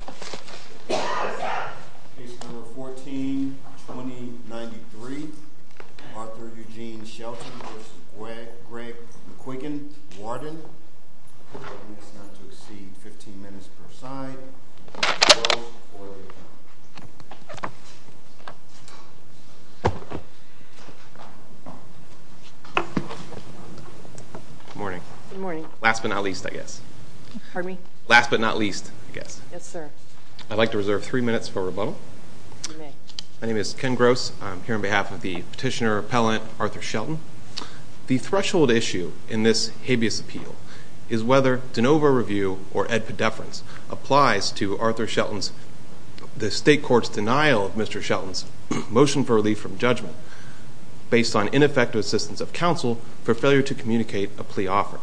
Case number 14-2093, Arthur Eugene Shelton v. Greg McQuiggin, Warden. I ask not to exceed 15 minutes per side. Close or leave the room. Good morning. Good morning. Last but not least, I guess. Pardon me? Last but not least, I guess. Yes, sir. I'd like to reserve three minutes for rebuttal. You may. My name is Ken Gross. I'm here on behalf of the petitioner-appellant, Arthur Shelton. The threshold issue in this habeas appeal is whether de novo review or ad pedeference applies to Arthur Shelton's the state court's denial of Mr. Shelton's motion for relief from judgment based on ineffective assistance of counsel for failure to communicate a plea offer.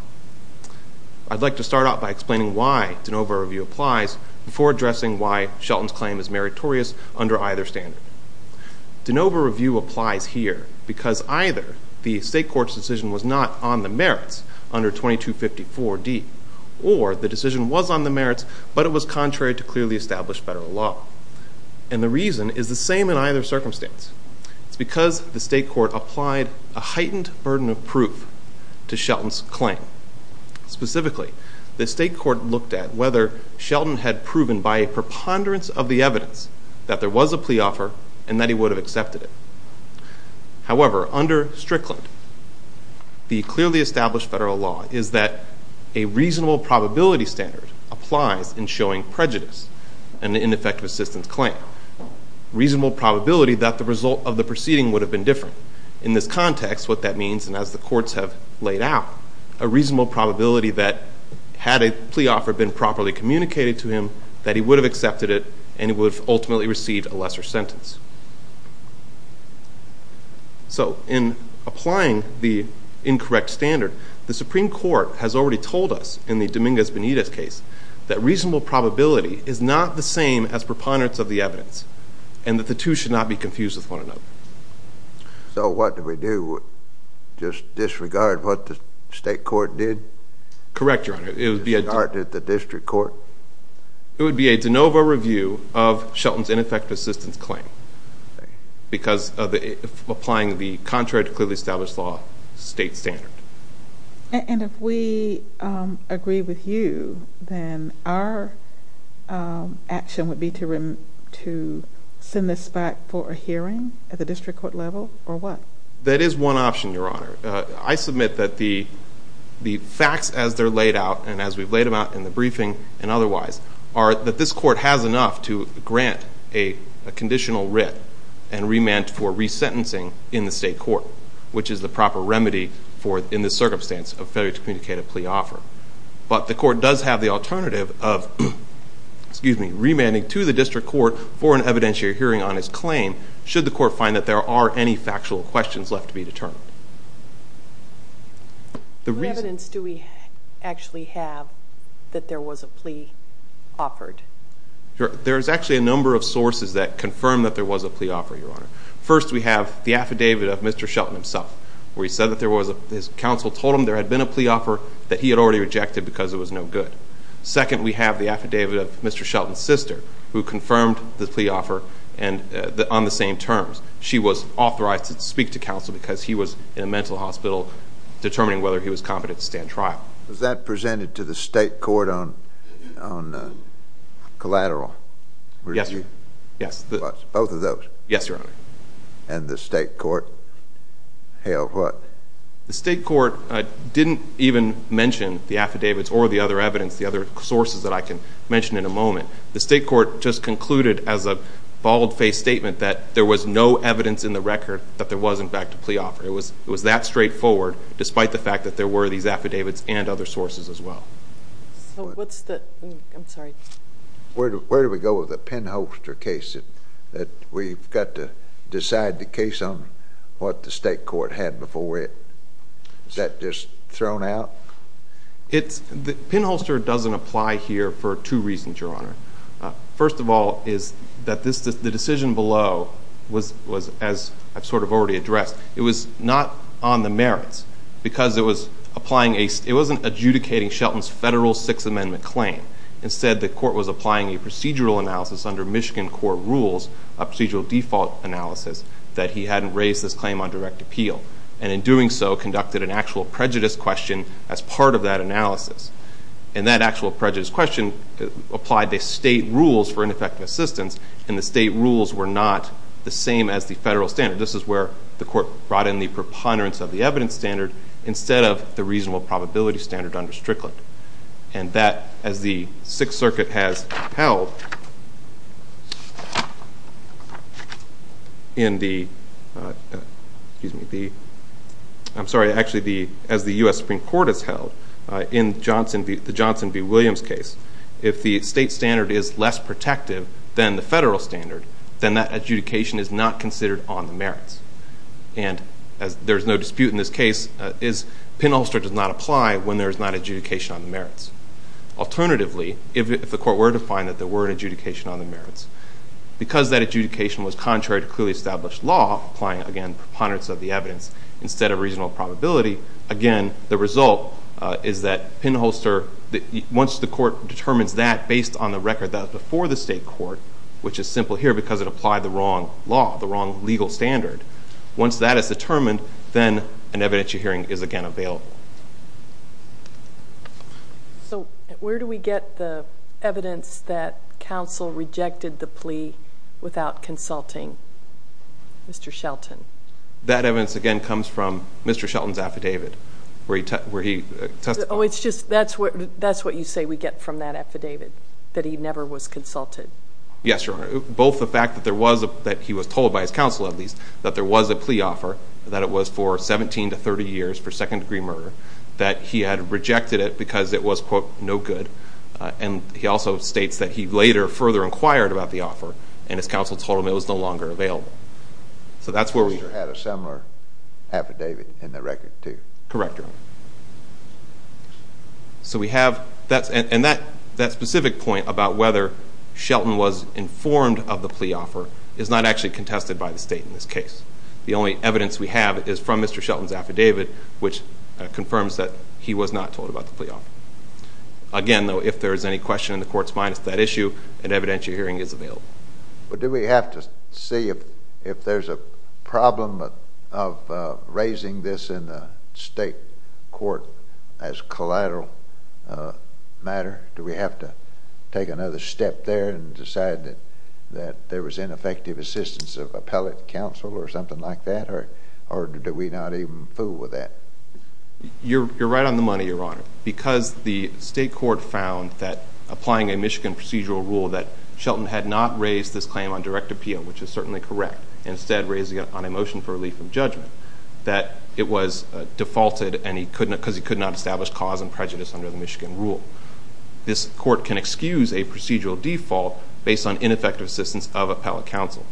I'd like to start out by explaining why de novo review applies before addressing why Shelton's claim is meritorious under either standard. De novo review applies here because either the state court's decision was not on the merits under 2254D or the decision was on the merits, but it was contrary to clearly established federal law. And the reason is the same in either circumstance. It's because the state court applied a heightened burden of proof to Shelton's claim. Specifically, the state court looked at whether Shelton had proven by a preponderance of the evidence that there was a plea offer and that he would have accepted it. However, under Strickland, the clearly established federal law is that a reasonable probability standard applies in showing prejudice in an ineffective assistance claim. Reasonable probability that the result of the proceeding would have been different. In this context, what that means, and as the courts have laid out, a reasonable probability that had a plea offer been properly communicated to him, that he would have accepted it, and he would have ultimately received a lesser sentence. So, in applying the incorrect standard, the Supreme Court has already told us in the Dominguez-Benitez case that reasonable probability is not the same as preponderance of the evidence and that the two should not be confused with one another. So, what do we do? Just disregard what the state court did? Correct, Your Honor. Disregard the district court? It would be a de novo review of Shelton's ineffective assistance claim because of applying the contrary to clearly established law state standard. And if we agree with you, then our action would be to send this back for a hearing at the district court level, or what? That is one option, Your Honor. I submit that the facts as they're laid out, and as we've laid them out in the briefing and otherwise, are that this court has enough to grant a conditional writ and remand for resentencing in the state court, which is the proper remedy for, in this circumstance, a federally communicated plea offer. But the court does have the alternative of remanding to the district court for an evidentiary hearing on his claim should the court find that there are any factual questions left to be determined. What evidence do we actually have that there was a plea offered? There's actually a number of sources that confirm that there was a plea offer, Your Honor. First, we have the affidavit of Mr. Shelton himself, where he said that his counsel told him there had been a plea offer that he had already rejected because it was no good. Second, we have the affidavit of Mr. Shelton's sister, who confirmed the plea offer on the same terms. She was authorized to speak to counsel because he was in a mental hospital determining whether he was competent to stand trial. Was that presented to the state court on collateral? Yes, Your Honor. Both of those? Yes, Your Honor. And the state court held what? The state court didn't even mention the affidavits or the other evidence, the other sources that I can mention in a moment. The state court just concluded as a bald-faced statement that there was no evidence in the record that there was, in fact, a plea offer. It was that straightforward, despite the fact that there were these affidavits and other sources as well. I'm sorry. Where do we go with the Penholster case that we've got to decide the case on what the state court had before it? Is that just thrown out? Penholster doesn't apply here for two reasons, Your Honor. First of all is that the decision below was, as I've sort of already addressed, it was not on the merits because it wasn't adjudicating Shelton's federal Sixth Amendment claim. Instead, the court was applying a procedural analysis under Michigan court rules, a procedural default analysis, that he hadn't raised this claim on direct appeal, and in doing so conducted an actual prejudice question as part of that analysis. And that actual prejudice question applied to state rules for ineffective assistance, and the state rules were not the same as the federal standard. This is where the court brought in the preponderance of the evidence standard instead of the reasonable probability standard under Strickland. And that, as the Sixth Circuit has held in the US Supreme Court has held in the Johnson v. Williams case, if the state standard is less protective than the federal standard, then that adjudication is not considered on the merits. And there's no dispute in this case. Penholster does not apply when there is not adjudication on the merits. Alternatively, if the court were to find that there were an adjudication on the merits, because that adjudication was contrary to clearly established law, applying, again, preponderance of the evidence instead of reasonable probability, again, the result is that Penholster, once the court determines that, based on the record that was before the state court, which is simple here because it applied the wrong law, the wrong legal standard, once that is determined, then an evidentiary hearing is again available. So where do we get the evidence that counsel rejected the plea without consulting Mr. Shelton? That evidence, again, comes from Mr. Shelton's affidavit where he testified. Oh, it's just that's what you say we get from that affidavit, that he never was consulted. Yes, Your Honor. Both the fact that he was told by his counsel, at least, that there was a plea offer, that it was for 17 to 30 years for second-degree murder, that he had rejected it because it was, quote, no good, and he also states that he later further inquired about the offer and his counsel told him it was no longer available. So that's where we get it. Penholster had a similar affidavit in the record, too. Correct, Your Honor. So we have that, and that specific point about whether Shelton was informed of the plea offer is not actually contested by the State in this case. The only evidence we have is from Mr. Shelton's affidavit, which confirms that he was not told about the plea offer. Again, though, if there is any question in the Court's mind as to that issue, an evidentiary hearing is available. But do we have to see if there's a problem of raising this in the State court as collateral matter? Do we have to take another step there and decide that there was ineffective assistance of appellate counsel or something like that, or do we not even fool with that? You're right on the money, Your Honor. Because the State court found that applying a Michigan procedural rule that Shelton had not raised this claim on direct appeal, which is certainly correct, instead raising it on a motion for relief of judgment, that it was defaulted because he could not establish cause and prejudice under the Michigan rule. This court can excuse a procedural default based on ineffective assistance of appellate counsel.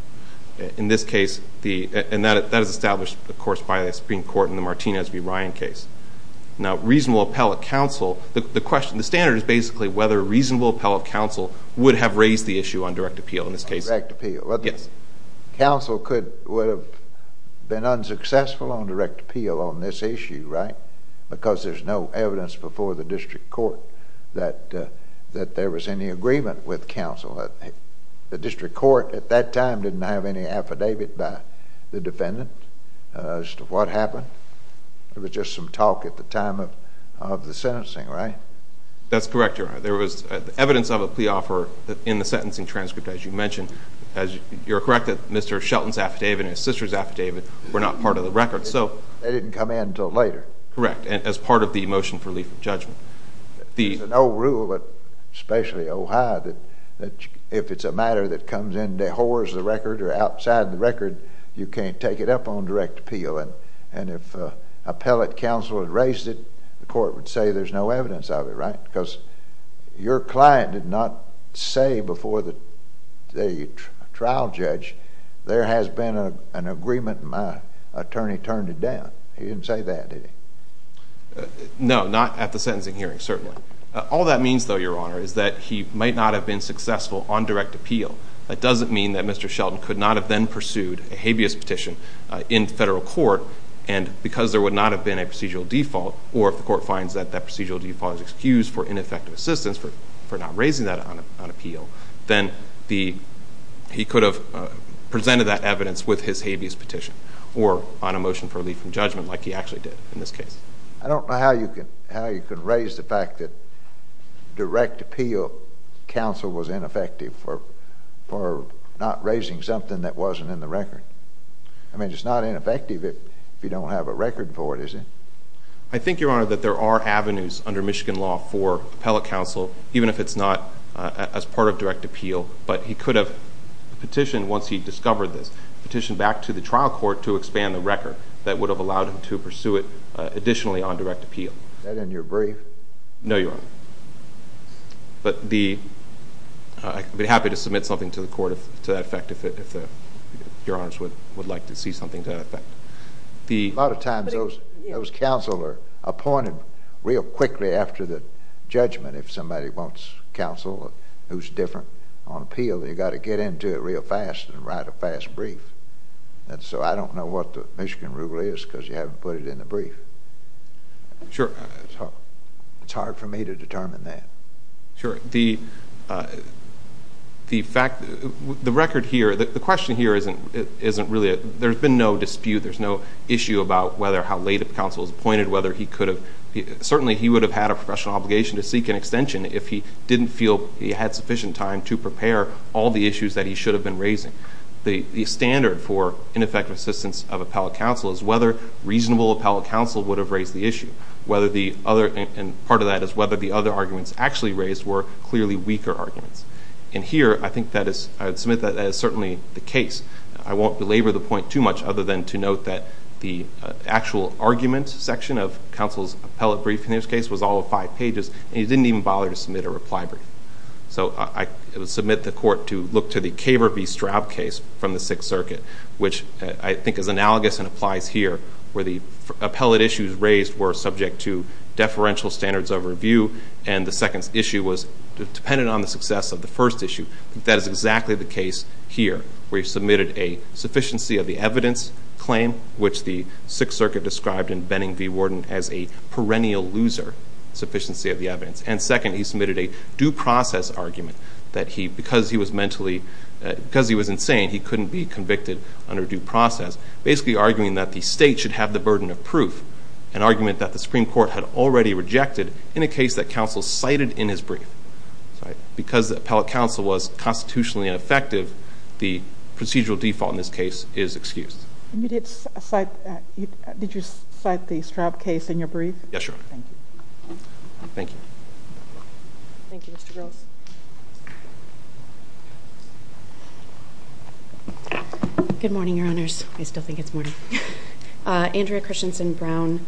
In this case, and that is established, of course, by the Supreme Court in the Martinez v. Ryan case. Now, reasonable appellate counsel, the standard is basically whether reasonable appellate counsel would have raised the issue on direct appeal in this case. Direct appeal. Yes. Counsel would have been unsuccessful on direct appeal on this issue, right? Because there's no evidence before the District Court that there was any agreement with counsel. The District Court at that time didn't have any affidavit by the defendant as to what happened. It was just some talk at the time of the sentencing, right? That's correct, Your Honor. There was evidence of a plea offer in the sentencing transcript, as you mentioned. You're correct that Mr. Shelton's affidavit and his sister's affidavit were not part of the record. They didn't come in until later. Correct. As part of the motion for relief of judgment. There's an old rule, especially Ohio, that if it's a matter that comes in dehors the record or outside the record, you can't take it up on direct appeal. And if appellate counsel had raised it, the court would say there's no evidence of it, right? Because your client did not say before the trial judge there has been an agreement and my attorney turned it down. He didn't say that, did he? No, not at the sentencing hearing, certainly. All that means, though, Your Honor, is that he might not have been successful on direct appeal. That doesn't mean that Mr. Shelton could not have then pursued a habeas petition in federal court and because there would not have been a procedural default, or if the court finds that that procedural default is excused for ineffective assistance for not raising that on appeal, then he could have presented that evidence with his habeas petition or on a motion for relief from judgment like he actually did in this case. I don't know how you could raise the fact that direct appeal counsel was ineffective for not raising something that wasn't in the record. I mean, it's not ineffective if you don't have a record for it, is it? I think, Your Honor, that there are avenues under Michigan law for appellate counsel, even if it's not as part of direct appeal, but he could have petitioned once he discovered this, petitioned back to the trial court to expand the record that would have allowed him to pursue it additionally on direct appeal. Is that in your brief? No, Your Honor. But I'd be happy to submit something to the court to that effect if Your Honors would like to see something to that effect. A lot of times those counsel are appointed real quickly after the judgment. If somebody wants counsel who's different on appeal, they've got to get into it real fast and write a fast brief. And so I don't know what the Michigan rule is because you haven't put it in the brief. Sure. It's hard for me to determine that. Sure. The record here, the question here isn't really, there's been no dispute, there's no issue about whether how late a counsel is appointed, whether he could have, certainly he would have had a professional obligation to seek an extension if he didn't feel he had sufficient time to prepare all the issues that he should have been raising. The standard for ineffective assistance of appellate counsel is whether reasonable appellate counsel would have raised the issue, whether the other, and part of that is whether the other arguments actually raised were clearly weaker arguments. And here I think that is, I would submit that that is certainly the case. I won't belabor the point too much other than to note that the actual argument section of counsel's appellate brief in this case was all five pages, and he didn't even bother to submit a reply brief. So I would submit the court to look to the Kaver v. Straub case from the Sixth Circuit, which I think is analogous and applies here where the appellate issues raised were subject to deferential standards of review and the second issue was dependent on the success of the first issue. I think that is exactly the case here where he submitted a sufficiency of the evidence claim, which the Sixth Circuit described in Benning v. Worden as a perennial loser, sufficiency of the evidence. And second, he submitted a due process argument that he, because he was mentally, because he was insane, he couldn't be convicted under due process, basically arguing that the state should have the burden of proof, an argument that the Supreme Court had already rejected in a case that counsel cited in his brief. Because the appellate counsel was constitutionally ineffective, the procedural default in this case is excused. Did you cite the Straub case in your brief? Yes, Your Honor. Thank you. Thank you, Mr. Gross. Good morning, Your Honors. I still think it's morning. Andrea Christensen Brown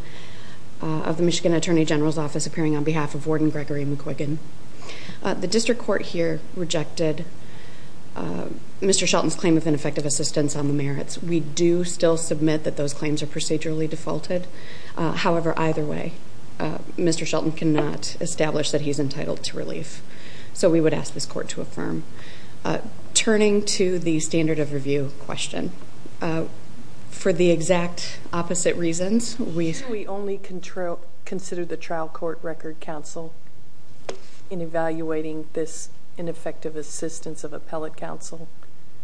of the Michigan Attorney General's Office appearing on behalf of Warden Gregory McQuiggan. The district court here rejected Mr. Shelton's claim of ineffective assistance on the merits. We do still submit that those claims are procedurally defaulted. However, either way, Mr. Shelton cannot establish that he is entitled to relief, so we would ask this court to affirm. Turning to the standard of review question, for the exact opposite reasons, we... Shouldn't we only consider the trial court record counsel in evaluating this ineffective assistance of appellate counsel?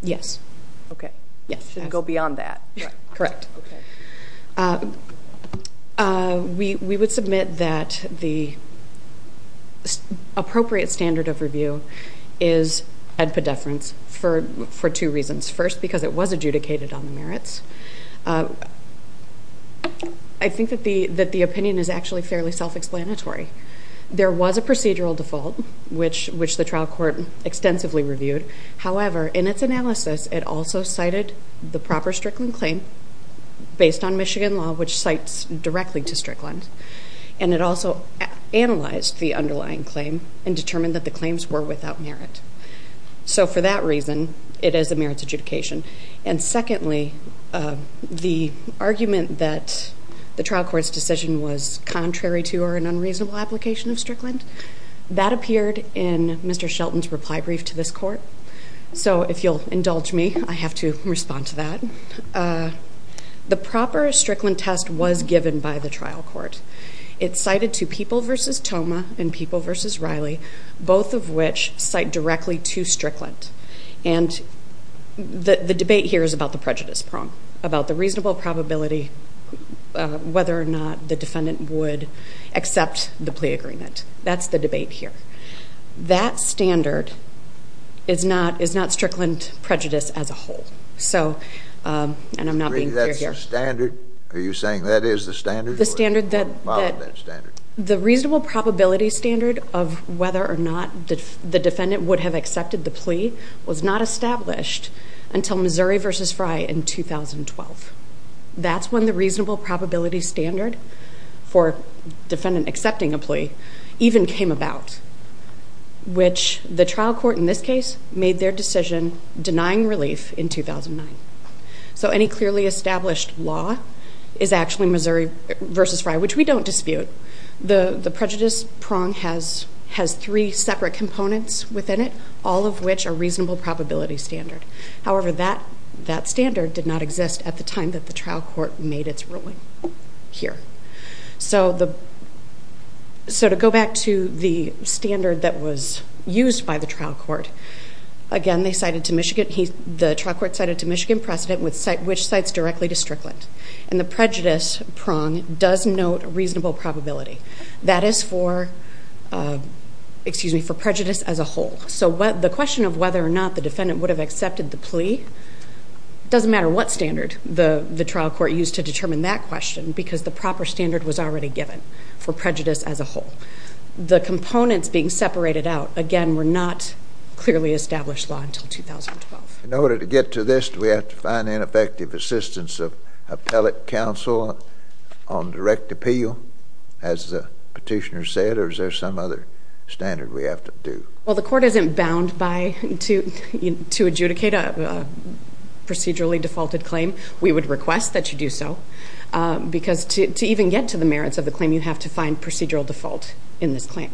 Yes. Okay. Yes. It shouldn't go beyond that. Correct. Okay. We would submit that the appropriate standard of review is ad pediferens for two reasons. First, because it was adjudicated on the merits. I think that the opinion is actually fairly self-explanatory. There was a procedural default, which the trial court extensively reviewed. However, in its analysis, it also cited the proper Strickland claim based on Michigan law, which cites directly to Strickland. And, it also analyzed the underlying claim and determined that the claims were without merit. So, for that reason, it is a merits adjudication. And secondly, the argument that the trial court's decision was contrary to or an unreasonable application of Strickland... So, if you'll indulge me, I have to respond to that. The proper Strickland test was given by the trial court. It's cited to People v. Toma and People v. Riley, both of which cite directly to Strickland. And, the debate here is about the prejudice prong, about the reasonable probability, whether or not the defendant would accept the plea agreement. That's the debate here. That standard is not Strickland prejudice as a whole. So, and I'm not being clear here. Are you saying that is the standard? The standard that... Follow that standard. The reasonable probability standard of whether or not the defendant would have accepted the plea was not established until Missouri v. Fry in 2012. That's when the reasonable probability standard for defendant accepting a plea, even came about. Which, the trial court in this case, made their decision denying relief in 2009. So, any clearly established law is actually Missouri v. Fry, which we don't dispute. The prejudice prong has three separate components within it, all of which are reasonable probability standard. However, that standard did not exist at the time that the trial court made its ruling here. So, to go back to the standard that was used by the trial court. Again, the trial court cited to Michigan precedent, which cites directly to Strickland. And, the prejudice prong does note reasonable probability. That is for prejudice as a whole. So, the question of whether or not the defendant would have accepted the plea... It doesn't matter what standard the trial court used to determine that question, because the proper standard was already given for prejudice as a whole. The components being separated out, again, were not clearly established law until 2012. In order to get to this, do we have to find ineffective assistance of appellate counsel on direct appeal, as the petitioner said, or is there some other standard we have to do? Well, the court isn't bound by... to adjudicate a procedurally defaulted claim. We would request that you do so, because to even get to the merits of the claim, you have to find procedural default in this claim.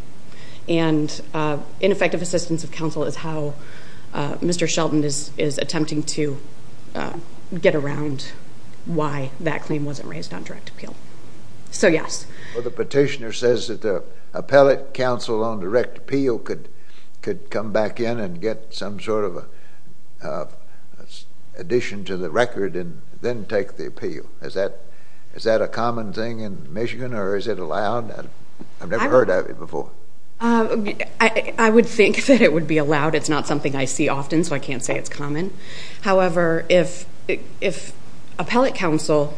And, ineffective assistance of counsel is how Mr. Shelton is attempting to get around why that claim wasn't raised on direct appeal. So, yes. Well, the petitioner says that the appellate counsel on direct appeal could come back in and get some sort of addition to the record, and then take the appeal. Is that a common thing in Michigan, or is it allowed? I've never heard of it before. I would think that it would be allowed. It's not something I see often, so I can't say it's common. However, if appellate counsel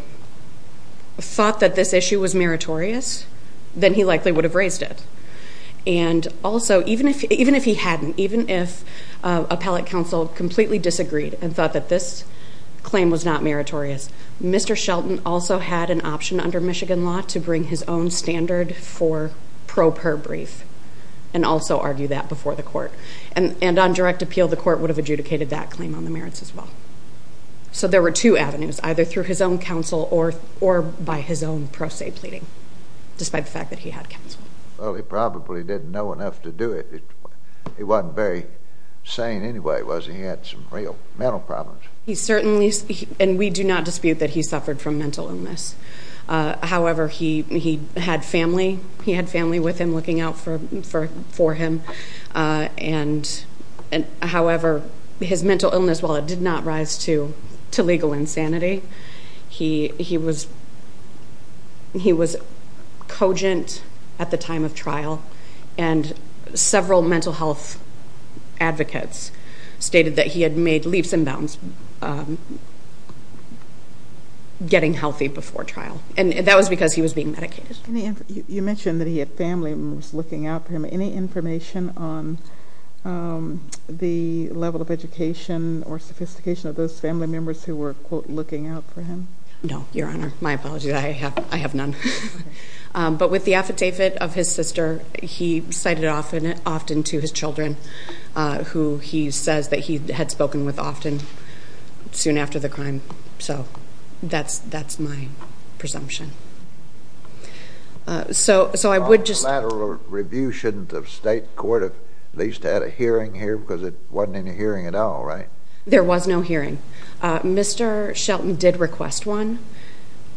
thought that this issue was meritorious, then he likely would have raised it. And also, even if he hadn't, even if appellate counsel completely disagreed and thought that this claim was not meritorious, Mr. Shelton also had an option under Michigan law to bring his own standard for pro per brief, and also argue that before the court. And on direct appeal, the court would have adjudicated that claim on the merits as well. So there were two avenues, either through his own counsel or by his own pro se pleading, despite the fact that he had counsel. Well, he probably didn't know enough to do it. He wasn't very sane anyway, was he? He had some real mental problems. He certainly, and we do not dispute that he suffered from mental illness. However, he had family. He had family with him looking out for him. And however, his mental illness, while it did not rise to legal insanity, he was cogent at the time of trial. And several mental health advocates stated that he had made leaps and bounds getting healthy before trial. And that was because he was being medicated. You mentioned that he had family members looking out for him. Any information on the level of education or sophistication of those family members who were, quote, looking out for him? No, Your Honor. My apologies. I have none. But with the affidavit of his sister, he cited it often to his children, who he says that he had spoken with often soon after the crime. So that's my presumption. So I would just— A lateral review, shouldn't the state court have at least had a hearing here? Because it wasn't any hearing at all, right? There was no hearing. Mr. Shelton did request one.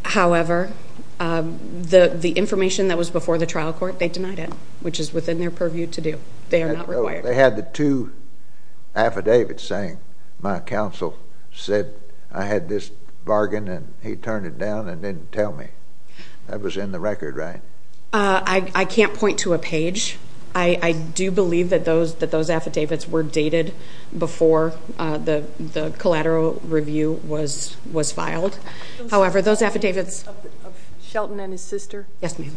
However, the information that was before the trial court, they denied it, which is within their purview to do. They are not required. They had the two affidavits saying, my counsel said I had this bargain and he turned it down and didn't tell me. That was in the record, right? I can't point to a page. I do believe that those affidavits were dated before the collateral review was filed. However, those affidavits— Those affidavits of Shelton and his sister? Yes, ma'am.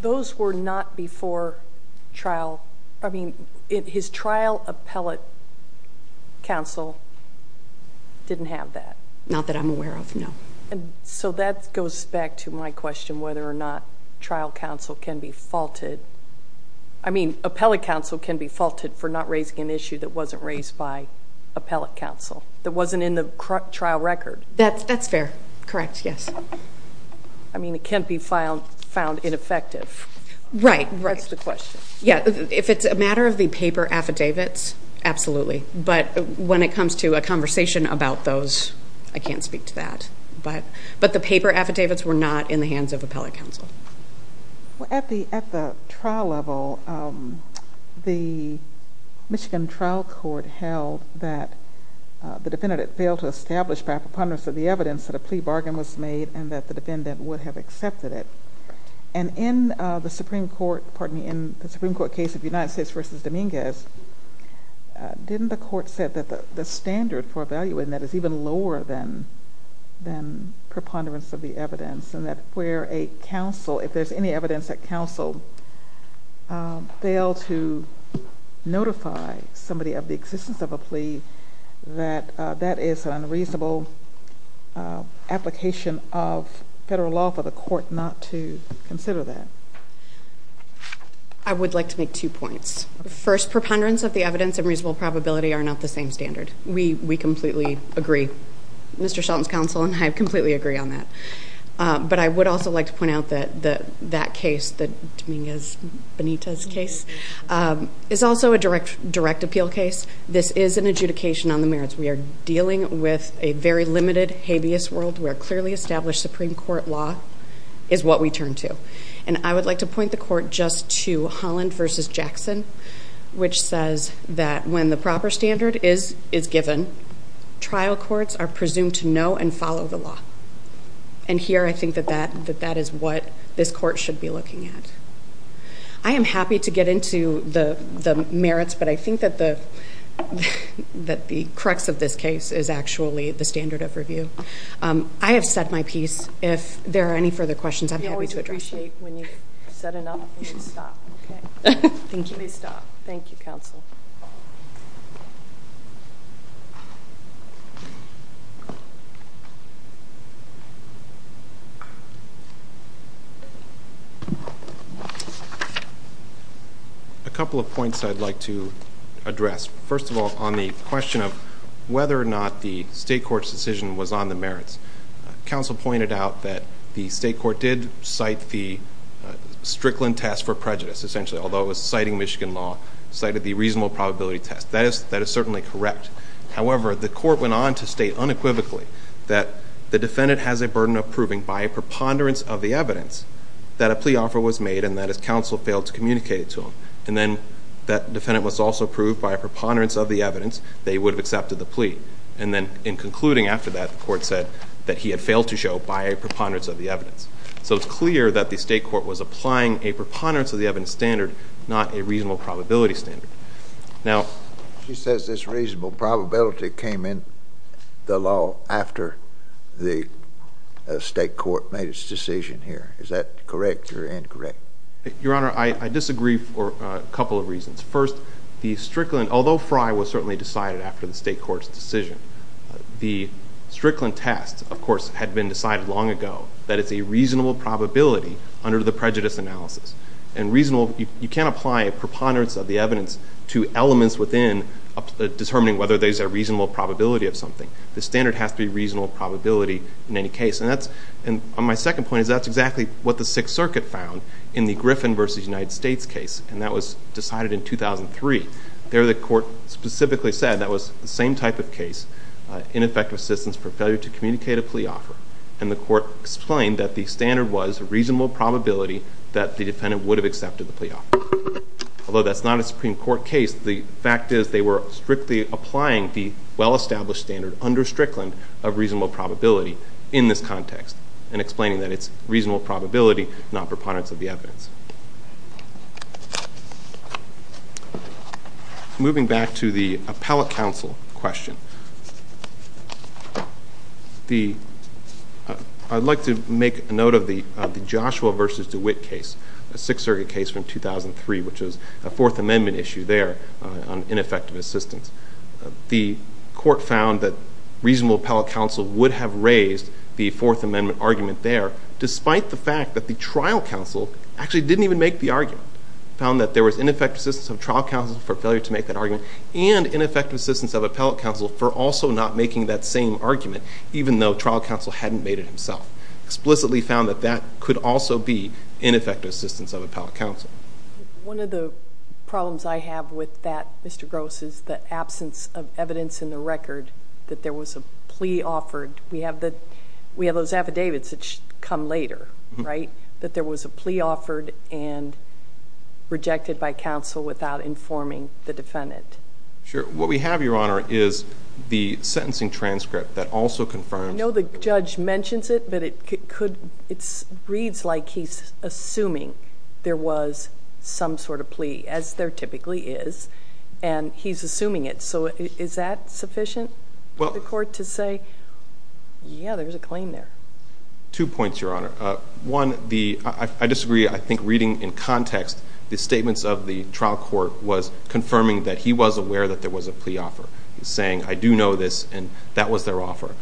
Those were not before trial. I mean, his trial appellate counsel didn't have that. Not that I'm aware of, no. So that goes back to my question whether or not trial counsel can be faulted. I mean, appellate counsel can be faulted for not raising an issue that wasn't raised by appellate counsel, that wasn't in the trial record. That's fair, correct, yes. I mean, it can't be found ineffective. Right, right. That's the question. Yeah, if it's a matter of the paper affidavits, absolutely. But when it comes to a conversation about those, I can't speak to that. But the paper affidavits were not in the hands of appellate counsel. Well, at the trial level, the Michigan trial court held that the defendant had failed to establish by preponderance of the evidence that a plea bargain was made and that the defendant would have accepted it. And in the Supreme Court case of United States v. Dominguez, didn't the court say that the standard for a value in that is even lower than preponderance of the evidence? And that where a counsel, if there's any evidence that counsel failed to notify somebody of the existence of a plea, that that is an unreasonable application of federal law for the court not to consider that. I would like to make two points. First, preponderance of the evidence and reasonable probability are not the same standard. We completely agree. Mr. Shelton's counsel and I completely agree on that. But I would also like to point out that that case, the Dominguez-Benitez case, is also a direct appeal case. This is an adjudication on the merits. We are dealing with a very limited habeas world where clearly established Supreme Court law is what we turn to. And I would like to point the court just to Holland v. Jackson, which says that when the proper standard is given, trial courts are presumed to know and follow the law. And here I think that that is what this court should be looking at. I am happy to get into the merits, but I think that the crux of this case is actually the standard of review. I have said my piece. If there are any further questions, I'm happy to address them. We always appreciate when you've said enough and you stop. Thank you. Please stop. Thank you, counsel. A couple of points I'd like to address. First of all, on the question of whether or not the state court's decision was on the merits, counsel pointed out that the state court did cite the Strickland test for prejudice, essentially, although it was citing Michigan law, cited the reasonable probability test. That is certainly correct. However, the court went on to state unequivocally that the defendant has a burden of proving by a preponderance of the evidence that a plea offer was made and that his counsel failed to communicate it to him. And then that defendant was also proved by a preponderance of the evidence that he would have accepted the plea. And then in concluding after that, the court said that he had failed to show by a preponderance of the evidence. So it's clear that the state court was applying a preponderance of the evidence standard, not a reasonable probability standard. She says this reasonable probability came in the law after the state court made its decision here. Is that correct or incorrect? Your Honor, I disagree for a couple of reasons. First, the Strickland, although Fry was certainly decided after the state court's decision, the Strickland test, of course, had been decided long ago that it's a reasonable probability under the prejudice analysis. And reasonable, you can't apply a preponderance of the evidence to elements within determining whether there's a reasonable probability of something. The standard has to be reasonable probability in any case. And my second point is that's exactly what the Sixth Circuit found in the Griffin v. United States case, and that was decided in 2003. There the court specifically said that was the same type of case, ineffective assistance for failure to communicate a plea offer. And the court explained that the standard was a reasonable probability that the defendant would have accepted the plea offer. Although that's not a Supreme Court case, the fact is they were strictly applying the well-established standard under Strickland of reasonable probability in this context, and explaining that it's reasonable probability, not preponderance of the evidence. Moving back to the appellate counsel question, I'd like to make a note of the Joshua v. DeWitt case, a Sixth Circuit case from 2003, which was a Fourth Amendment issue there on ineffective assistance. The court found that reasonable appellate counsel would have raised the Fourth Amendment argument there, despite the fact that the trial counsel actually didn't even make the argument. It found that there was ineffective assistance of trial counsel for failure to make that argument, and ineffective assistance of appellate counsel for also not making that same argument, even though trial counsel hadn't made it himself. Explicitly found that that could also be ineffective assistance of appellate counsel. One of the problems I have with that, Mr. Gross, is the absence of evidence in the record that there was a plea offered. We have those affidavits that come later, right? That there was a plea offered and rejected by counsel without informing the defendant. Sure. What we have, Your Honor, is the sentencing transcript that also confirms... I know the judge mentions it, but it reads like he's assuming there was some sort of plea, as there typically is, and he's assuming it. So is that sufficient for the court to say, yeah, there's a claim there? Two points, Your Honor. One, I disagree. I think reading in context the statements of the trial court was confirming that he was aware that there was a plea offer. He's saying, I do know this, and that was their offer.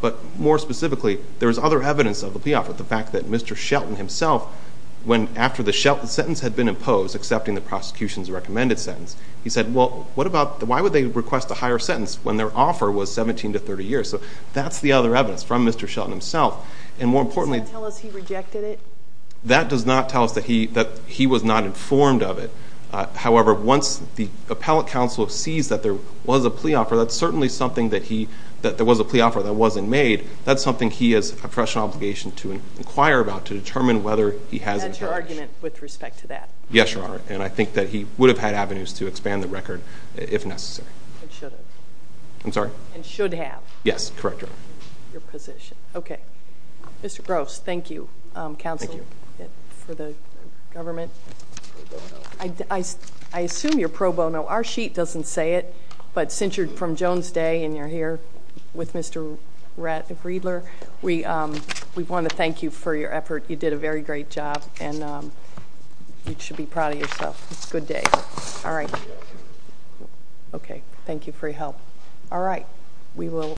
But more specifically, there was other evidence of the plea offer, the fact that Mr. Shelton himself, when after the sentence had been imposed, accepting the prosecution's recommended sentence, he said, well, what about, why would they request a higher sentence when their offer was 17 to 30 years? So that's the other evidence from Mr. Shelton himself. And more importantly... Does that tell us he rejected it? That does not tell us that he was not informed of it. However, once the appellate counsel sees that there was a plea offer, that's certainly something that he, that there was a plea offer that wasn't made, that's something he has a professional obligation to inquire about to determine whether he has information. And had your argument with respect to that? Yes, Your Honor, and I think that he would have had avenues to expand the record if necessary. And should have. I'm sorry? And should have. Yes, correct, Your Honor. Your position. Okay. Mr. Gross, thank you. Counsel for the government. I assume you're pro bono. Our sheet doesn't say it, but since you're from Jones Day and you're here with Mr. Riedler, we want to thank you for your effort. You did a very great job, and you should be proud of yourself. Good day. All right. Okay. Thank you for your help. All right. We will...